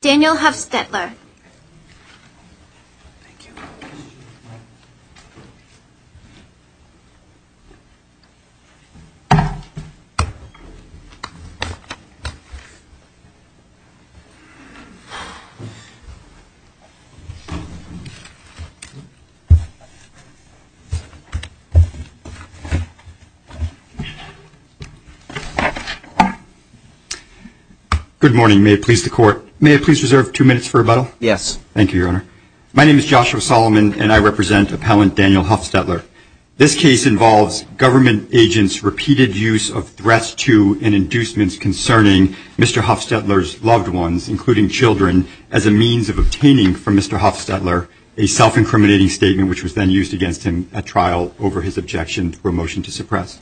Daniel Hoefstetler. Good morning. May I please reserve two minutes for rebuttal? Yes. Thank you, Your Honor. My name is Joshua Solomon and I represent appellant Daniel Hoefstetler. This case involves government agents' repeated use of threats to and inducements concerning Mr. Hoefstetler's loved ones, including children, as a means of obtaining from Mr. Hoefstetler a self-incriminating statement, which was then used against him at trial over his objection for a motion to suppress.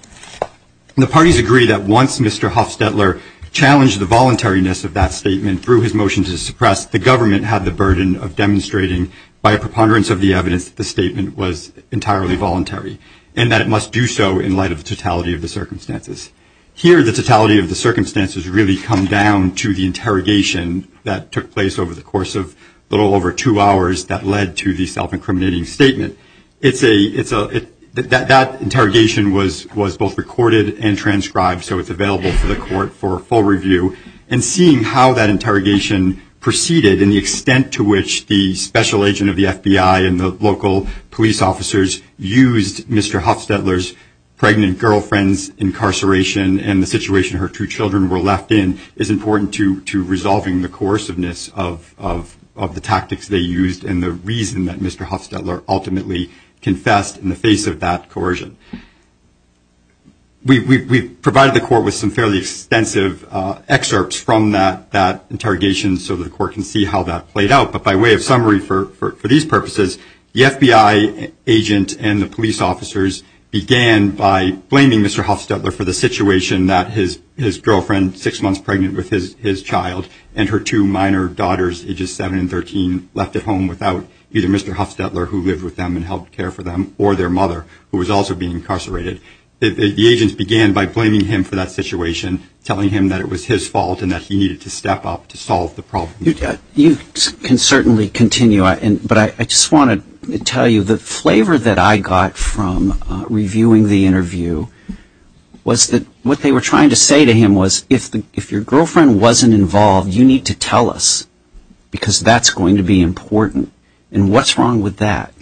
The parties agree that once Mr. Hoefstetler challenged the voluntariness of that statement through his motion to suppress, the government had the burden of demonstrating by a preponderance of the evidence that the statement was entirely voluntary and that it must do so in light of the totality of the circumstances. Here, the totality of the circumstances really come down to the interrogation that took place over the course of a little over two hours that led to the self-incriminating statement. It's a, it's a, it, that, that interrogation was, was both recorded and for full review and seeing how that interrogation proceeded and the extent to which the special agent of the FBI and the local police officers used Mr. Hoefstetler's pregnant girlfriend's incarceration and the situation her two children were left in is important to, to resolving the coerciveness of, of, of the tactics they used and the reason that Mr. Hoefstetler ultimately confessed in the face of that coercion. We, we, we provided the court with some fairly extensive excerpts from that, that interrogation so that the court can see how that played out. But by way of summary for, for, for these purposes, the FBI agent and the police officers began by blaming Mr. Hoefstetler for the situation that his, his girlfriend, six months pregnant with his, his child and her two minor daughters, ages seven and 13, left at home without either Mr. Hoefstetler, who lived with them and helped care for them, or their mother, who was also being incarcerated, the, the agents began by blaming him for that situation, telling him that it was his fault and that he needed to step up to solve the problem. You, you can certainly continue, but I just want to tell you the flavor that I got from reviewing the interview was that what they were trying to say to him was, if the, if your girlfriend wasn't involved, you need to tell us because that's going to be important. And what's wrong with that?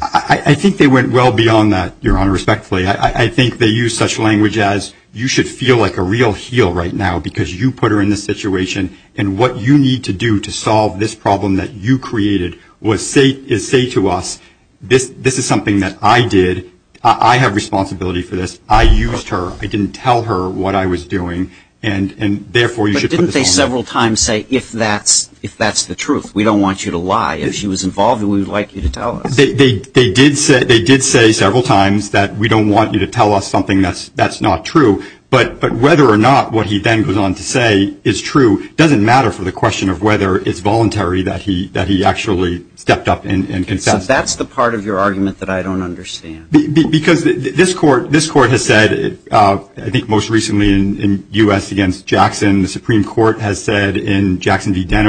I, I think they went well beyond that, Your Honor, respectfully. I, I think they used such language as, you should feel like a real heel right now because you put her in this situation and what you need to do to solve this problem that you created was say, is say to us, this, this is something that I did, I have responsibility for this, I used her, I didn't tell her what I was doing, and, and therefore you should put this on me. But didn't they several times say, if that's, if that's the truth, we don't want you to lie. If she was involved, we would like you to tell us. They, they, they did say, they did say several times that we don't want you to tell us something that's, that's not true, but, but whether or not what he then goes on to say is true doesn't matter for the question of whether it's voluntary that he, that he actually stepped up and, and confessed. So that's the part of your argument that I don't understand. Because this court, this court has said, I think most recently in, in U.S. against Jackson, the Supreme Court has said in Jackson v. Jackson,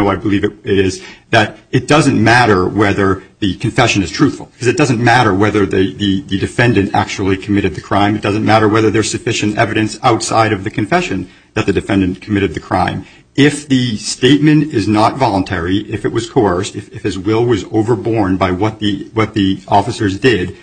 it doesn't matter whether the confession is truthful. Because it doesn't matter whether the, the, the defendant actually committed the crime. It doesn't matter whether there's sufficient evidence outside of the confession that the defendant committed the crime. If the statement is not voluntary, if it was coerced, if, if his will was overborne by what the, what the officers did,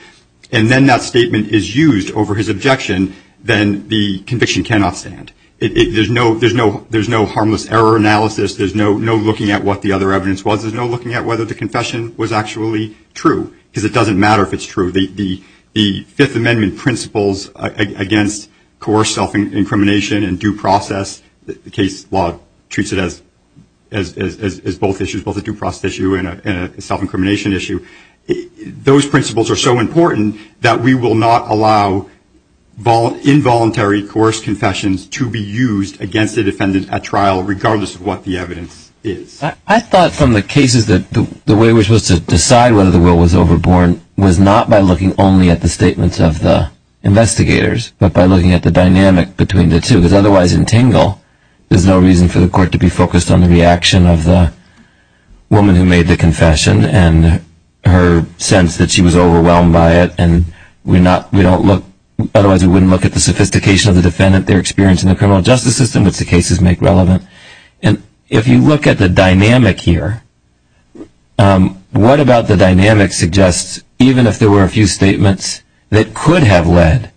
and then that statement is used over his objection, then the conviction cannot stand. It, it, there's no, there's no, there's no harmless error analysis. There's no, no looking at what the other evidence was. There's no looking at whether the confession was actually true, because it doesn't matter if it's true. The, the, the Fifth Amendment principles against coerced self-incrimination and due process, the case law treats it as, as, as, as, as both issues, both a due process issue and a, and a self-incrimination issue, those principles are so important that we will not allow involuntary coerced confessions to be used against the defendant at trial, regardless of what the evidence is. I thought from the cases that the, the way we're supposed to decide whether the will was overborne was not by looking only at the statements of the investigators, but by looking at the dynamic between the two, because otherwise in Tingle, there's no reason for the court to be focused on the reaction of the woman who made the confession and her sense that she was overwhelmed by it, and we're not, we don't look, otherwise we wouldn't look at the sophistication of the defendant, their experience in the criminal justice system, which the cases make relevant. And if you look at the dynamic here, what about the dynamic suggests, even if there were a few statements that could have led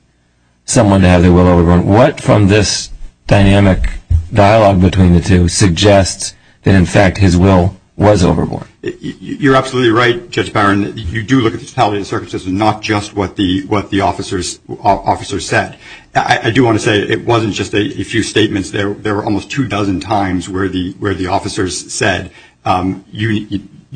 someone to have their will overborne, what from this dynamic dialogue between the two suggests that in fact, his will was overborne? You're absolutely right, Judge Byron, you do look at the totality of the circumstances, not just what the, what the officers, officers said. I do want to say it wasn't just a few statements. There were almost two dozen times where the, where the officers said,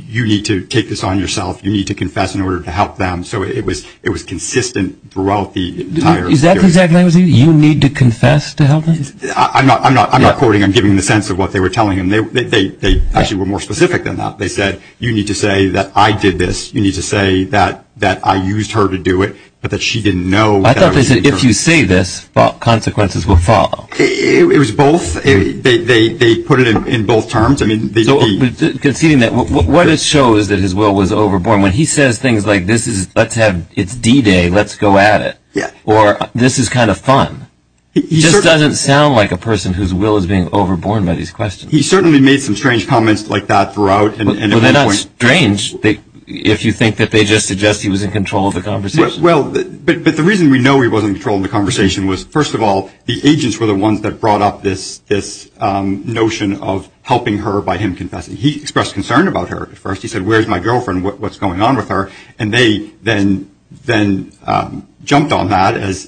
you need to take this on yourself, you need to confess in order to help them. So it was, it was consistent throughout the entire period. Is that the exact language, you need to confess to help them? I'm not, I'm not, I'm not quoting, I'm giving the sense of what they were telling him. They, they, they actually were more specific than that. They said, you need to say that I did this. You need to say that, that I used her to do it, but that she didn't know. I thought they said, if you say this, consequences will follow. It was both. They, they, they put it in both terms. I mean, they, they. So conceding that, what it shows that his will was overborne when he says things like, this is, let's have, it's D-Day, let's go at it, or this is kind of fun. He just doesn't sound like a person whose will is being overborne by these questions. He certainly made some strange comments like that throughout. And, and. Well, they're not strange. They, if you think that they just suggest he was in control of the conversation. Well, but, but the reason we know he wasn't in control of the conversation was, first of all, the agents were the ones that brought up this, this notion of helping her by him confessing. He expressed concern about her at first. He said, where's my girlfriend? What, what's going on with her? And they then, then jumped on that as,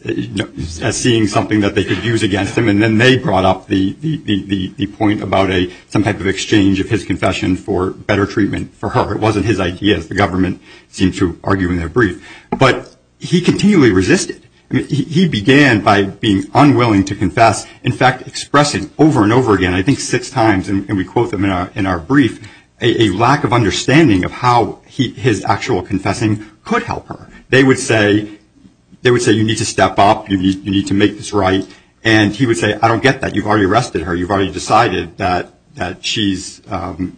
as seeing something that they could use against him, and then they brought up the, the, the, the point about a, some type of exchange of his confession for better treatment for her. It wasn't his idea, as the government seemed to argue in their brief. But he continually resisted. He began by being unwilling to confess. In fact, expressing over and over again, I think six times, and we quote them in our, in our brief, a, a lack of understanding of how he, his actual confessing could help her. They would say, they would say, you need to step up. You need, you need to make this right. And he would say, I don't get that. You've already arrested her. You've already decided that, that she's, that,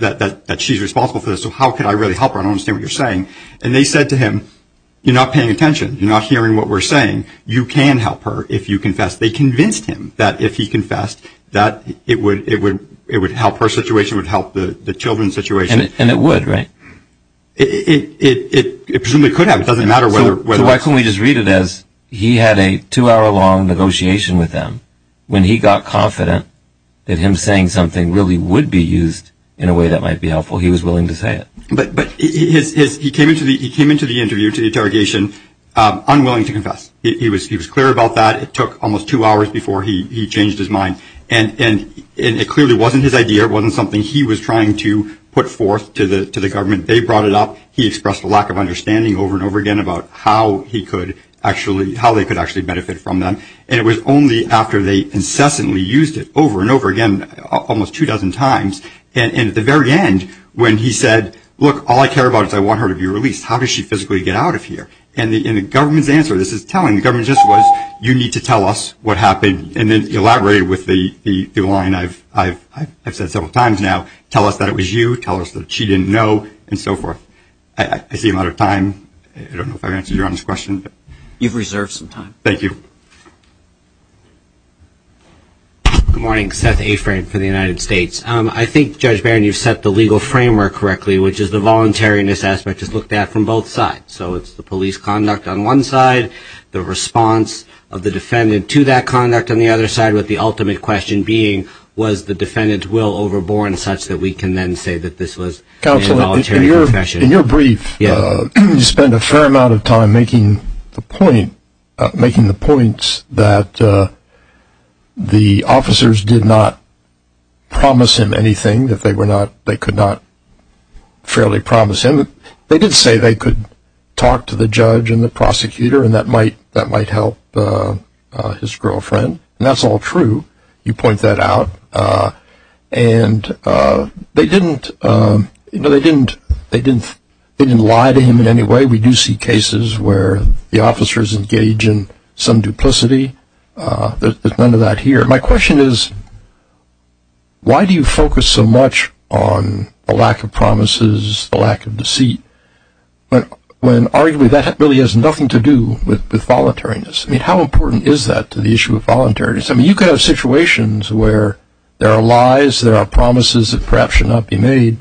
that, that she's responsible for this, so how could I really help her? I don't understand what you're saying. And they said to him, you're not paying attention. You're not hearing what we're saying. You can help her if you confess. They convinced him that if he confessed, that it would, it would, it would help her situation, would help the, the children's situation. And it would, right? It, it, it, it presumably could have. It doesn't matter whether, whether. So why couldn't we just read it as he had a two hour long negotiation with them when he got confident that him saying something really would be used in a way that might be helpful, he was willing to say it. But, but his, his, he came into the, he came into the interview, to the unwilling to confess. He was, he was clear about that. It took almost two hours before he, he changed his mind. And, and it clearly wasn't his idea. It wasn't something he was trying to put forth to the, to the government. They brought it up. He expressed a lack of understanding over and over again about how he could actually, how they could actually benefit from them. And it was only after they incessantly used it over and over again, almost two dozen times, and at the very end, when he said, look, all I care about is I want her to be released, how does she physically get out of here? And the, and the government's answer to this is telling. The government's answer was, you need to tell us what happened. And then elaborated with the, the, the line I've, I've, I've said several times now, tell us that it was you, tell us that she didn't know, and so forth. I, I, I see a lot of time. I don't know if I answered your honest question. You've reserved some time. Thank you. Good morning. Seth Afrin for the United States. I think Judge Barron, you've set the legal framework correctly, which is the voluntariness aspect is looked at from both sides. So it's the police conduct on one side, the response of the defendant to that conduct on the other side, with the ultimate question being, was the defendant will overborne such that we can then say that this was a voluntary confession? In your brief, you spend a fair amount of time making the point, making the points that the officers did not promise him anything, that they were not, they could not fairly promise him. They did say they could talk to the judge and the prosecutor, and that might, that might help his girlfriend. And that's all true. You point that out. And they didn't, you know, they didn't, they didn't, they didn't lie to him in any way. We do see cases where the officers engage in some duplicity. There's none of that here. My question is, why do you focus so much on a lack of promises, a lack of receipt, when arguably that really has nothing to do with voluntariness? I mean, how important is that to the issue of voluntariness? I mean, you could have situations where there are lies, there are promises that perhaps should not be made,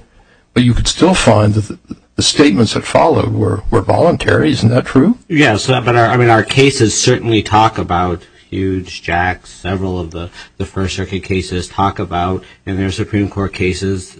but you could still find that the statements that followed were, were voluntary. Isn't that true? Yeah. So, but I mean, our cases certainly talk about huge jacks, several of the first circuit cases talk about, and there are Supreme Court cases,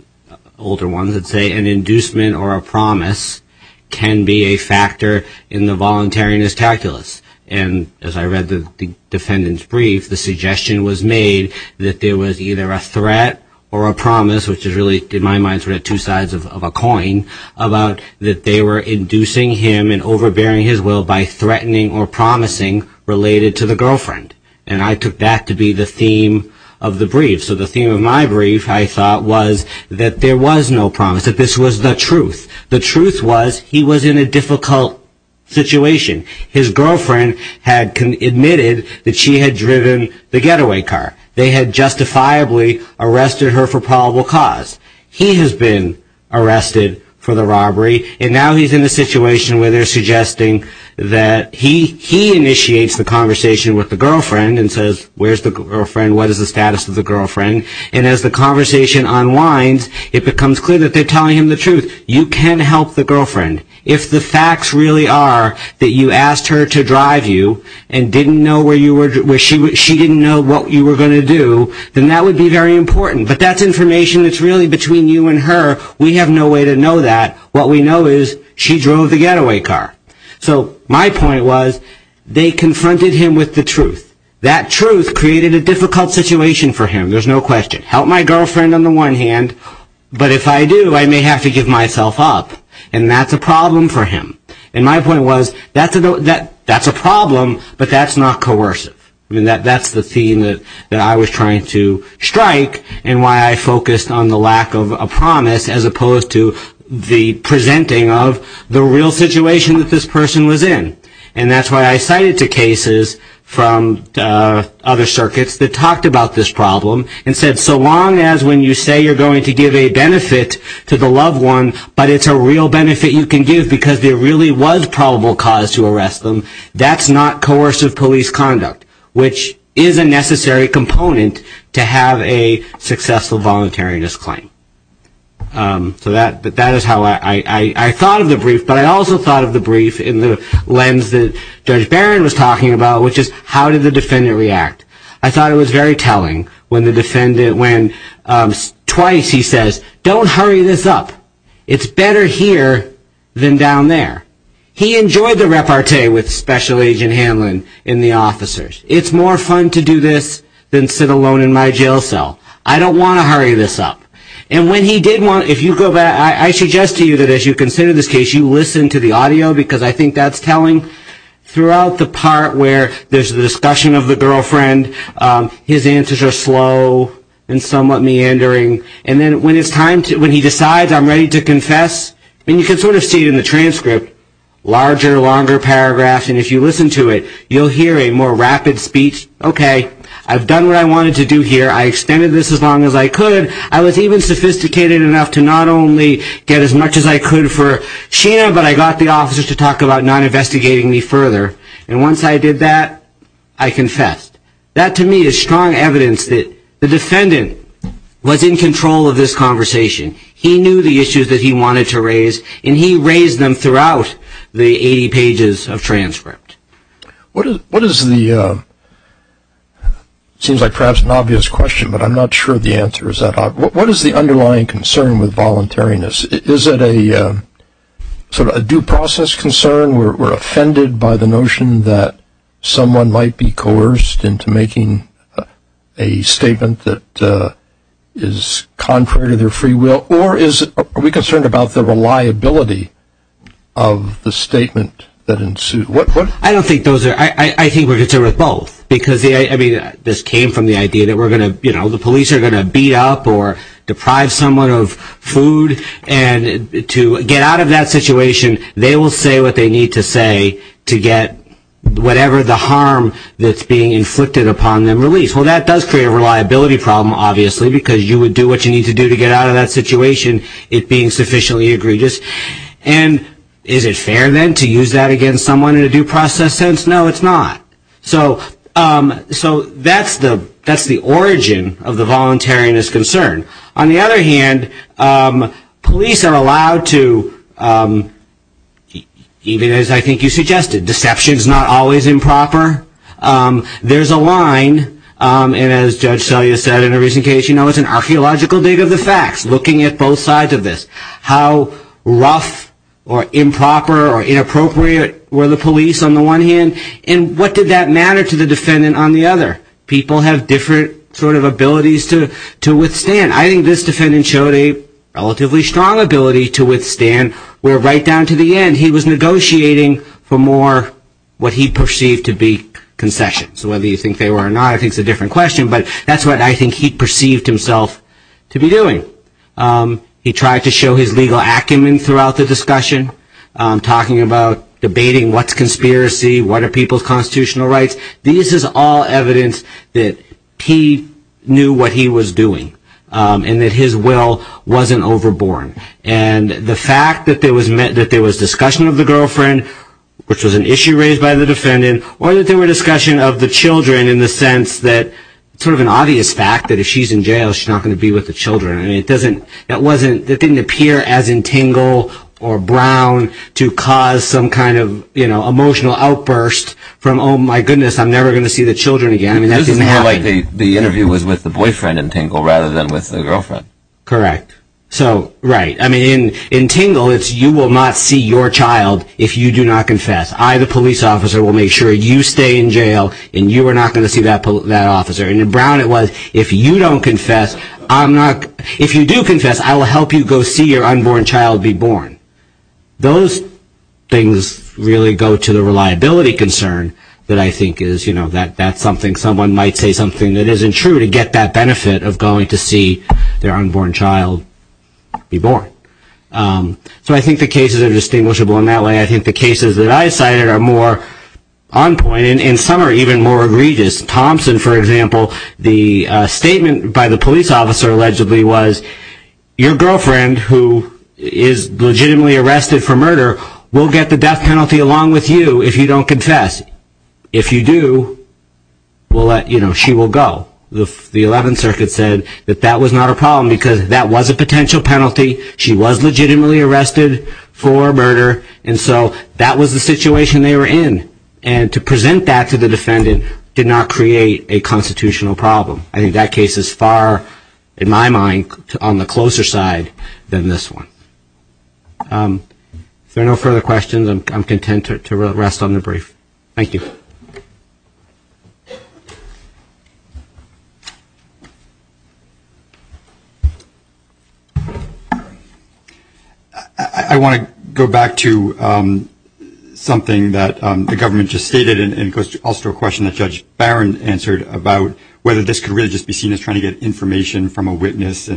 older ones that say an inducement or a promise can be a factor in the voluntariness calculus. And as I read the defendant's brief, the suggestion was made that there was either a threat or a promise, which is really, in my mind, sort of two sides of a coin, about that they were inducing him and overbearing his will by threatening or promising related to the girlfriend. And I took that to be the theme of the brief. So the theme of my brief, I thought, was that there was no promise, that this was the truth. The truth was he was in a difficult situation. His girlfriend had admitted that she had driven the getaway car. They had justifiably arrested her for probable cause. He has been arrested for the robbery. And now he's in a situation where they're suggesting that he, he initiates the conversation with the girlfriend and says, where's the girlfriend? What is the status of the girlfriend? And as the conversation unwinds, it becomes clear that they're telling him the truth. You can help the girlfriend. If the facts really are that you asked her to drive you and didn't know where you were, where she was, she didn't know what you were going to do, then that would be very important. But that's information that's really between you and her. We have no way to know that. What we know is she drove the getaway car. So my point was they confronted him with the truth. That truth created a difficult situation for him. There's no question. Help my girlfriend on the one hand, but if I do, I may have to give myself up. And that's a problem for him. And my point was, that's a problem, but that's not coercive. I mean, that's the theme that I was trying to strike and why I focused on the lack of a promise as opposed to the presenting of the real situation that this person was in. And that's why I cited two cases from other circuits that talked about this problem and said, so long as when you say you're going to give a benefit to the loved one, but it's a real benefit you can give because there really was probable cause to arrest them, that's not coercive police conduct, which is a necessary component to have a successful voluntariness claim. So that is how I thought of the brief, but I also thought of the brief in the cases that Judge Barron was talking about, which is how did the defendant react? I thought it was very telling when twice he says, don't hurry this up. It's better here than down there. He enjoyed the repartee with Special Agent Hanlon and the officers. It's more fun to do this than sit alone in my jail cell. I don't want to hurry this up. And when he did want, if you go back, I suggest to you that as you consider this video, because I think that's telling, throughout the part where there's the discussion of the girlfriend, his answers are slow and somewhat meandering, and then when he decides I'm ready to confess, and you can sort of see it in the transcript, larger, longer paragraphs, and if you listen to it, you'll hear a more rapid speech, okay, I've done what I wanted to do here, I extended this as long as I could, I was even sophisticated enough to not only get as much as I could, but I was also encouraged to talk about not investigating me further, and once I did that, I confessed. That to me is strong evidence that the defendant was in control of this conversation. He knew the issues that he wanted to raise, and he raised them throughout the 80 pages of transcript. What is the, seems like perhaps an obvious question, but I'm not sure the answer is that obvious. What is the underlying concern with voluntariness? Is it a sort of a due process concern? We're offended by the notion that someone might be coerced into making a statement that is contrary to their free will, or is, are we concerned about the reliability of the statement that ensued? What, what? I don't think those are, I think we're concerned with both, because I mean, this came from the idea that we're going to, you know, the police are going to beat up or deprive someone of food, and to get out of that situation, they will say what they need to say to get whatever the harm that's being inflicted upon them released. Well, that does create a reliability problem, obviously, because you would do what you need to do to get out of that situation, it being sufficiently egregious. And is it fair then to use that against someone in a due process sense? No, it's not. So, so that's the, that's the origin of the voluntariness concern. On the other hand, police are allowed to, even as I think you suggested, deception is not always improper. There's a line, and as Judge Selye said in a recent case, you know, it's an archaeological dig of the facts, looking at both sides of this. How rough or improper or inappropriate were the police on the one hand? And what did that matter to the defendant on the other? People have different sort of abilities to withstand. I think this defendant showed a relatively strong ability to withstand, where right down to the end, he was negotiating for more what he perceived to be concessions. Whether you think they were or not, I think is a different question, but that's what I think he perceived himself to be doing. He tried to show his legal acumen throughout the discussion, talking about debating what's conspiracy, what are people's constitutional rights. This is all evidence that he knew what he was doing and that his will wasn't overborne. And the fact that there was discussion of the girlfriend, which was an issue raised by the defendant, or that there were discussion of the children in the sense that it's sort of an obvious fact that if she's in jail, she's not going to be with the children. I mean, it doesn't, that wasn't, that didn't appear as entangled or brown to cause some kind of emotional outburst from, oh my goodness, I'm never going to see the children again. I mean, that doesn't happen. This is more like the interview was with the boyfriend in Tingle rather than with the girlfriend. Correct. So, right. I mean, in Tingle, it's, you will not see your child if you do not confess. I, the police officer, will make sure you stay in jail and you are not going to see that officer. And in Brown, it was, if you don't confess, I'm not, if you do confess, I will help you go see your unborn child be born. Those things really go to the reliability concern that I think is, you know, that that's something someone might say something that isn't true to get that benefit of going to see their unborn child be born. So I think the cases are distinguishable in that way. I think the cases that I cited are more on point, and some are even more egregious. Thompson, for example, the statement by the police officer allegedly was, your girlfriend who is legitimately arrested for murder will get the death penalty along with you if you don't confess. If you do, we'll let, you know, she will go. The 11th circuit said that that was not a problem because that was a potential penalty. She was legitimately arrested for murder. And so that was the situation they were in. And to present that to the defendant did not create a constitutional problem. I think that case is far, in my mind, on the closer side than this one. If there are no further questions, I'm content to rest on the brief. Thank you. I want to go back to something that the government just stated and also a question that Judge Barron answered about whether this could really just be seen as trying to get information from a witness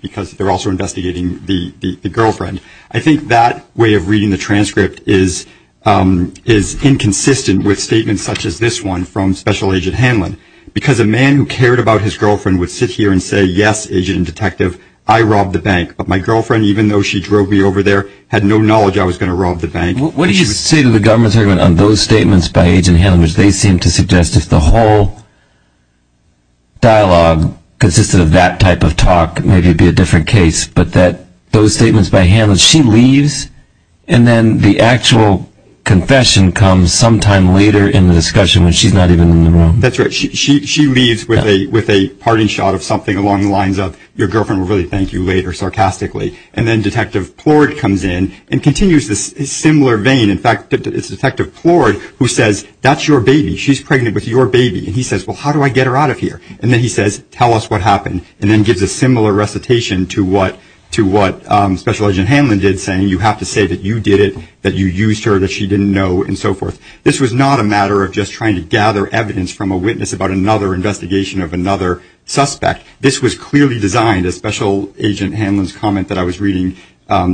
because they're also investigating the girlfriend. I think that way of reading the transcript is inconsistent with statements such as this one from Special Agent Hanlon because a man who cared about his girlfriend would sit here and say, yes, agent and detective, I robbed the bank. But my girlfriend, even though she drove me over there, had no knowledge I was going to rob the bank. What do you say to the government's argument on those statements by Agent Hanlon which they seem to suggest if the whole dialogue consisted of that type of talk, maybe it'd be a different case. But that those statements by Hanlon, she leaves and then the actual confession comes sometime later in the discussion when she's not even in the room. That's right. She leaves with a parting shot of something along the lines of your girlfriend will really thank you later, sarcastically. And then Detective Plourd comes in and continues this similar vein. In fact, it's Detective Plourd who says, that's your baby. She's pregnant with your baby. And he says, well, how do I get her out of here? And then he says, tell us what happened. And then gives a similar recitation to what Special Agent Hanlon did saying, you have to say that you did it, that you used her, that she didn't know and so forth. This was not a matter of just trying to gather evidence from a witness about another investigation of another suspect. This was clearly designed, as Special Agent Hanlon's comment that I was reading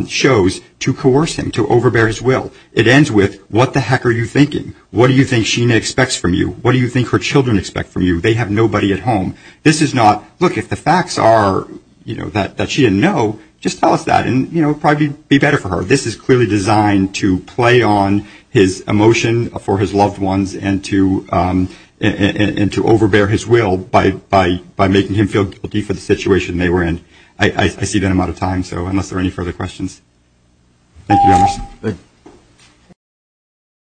shows, to coerce him, to overbear his will. It ends with, what the heck are you thinking? What do you think Sheena expects from you? What do you think her children expect from you? They have nobody at home. This is not, look, if the facts are, you know, that she didn't know, just tell us that and, you know, probably be better for her. This is clearly designed to play on his emotion for his loved ones and to, and to overbear his will by, by, by making him feel guilty for the situation they were in. I see that I'm out of time, so unless there are any further questions. Thank you very much. Thank you.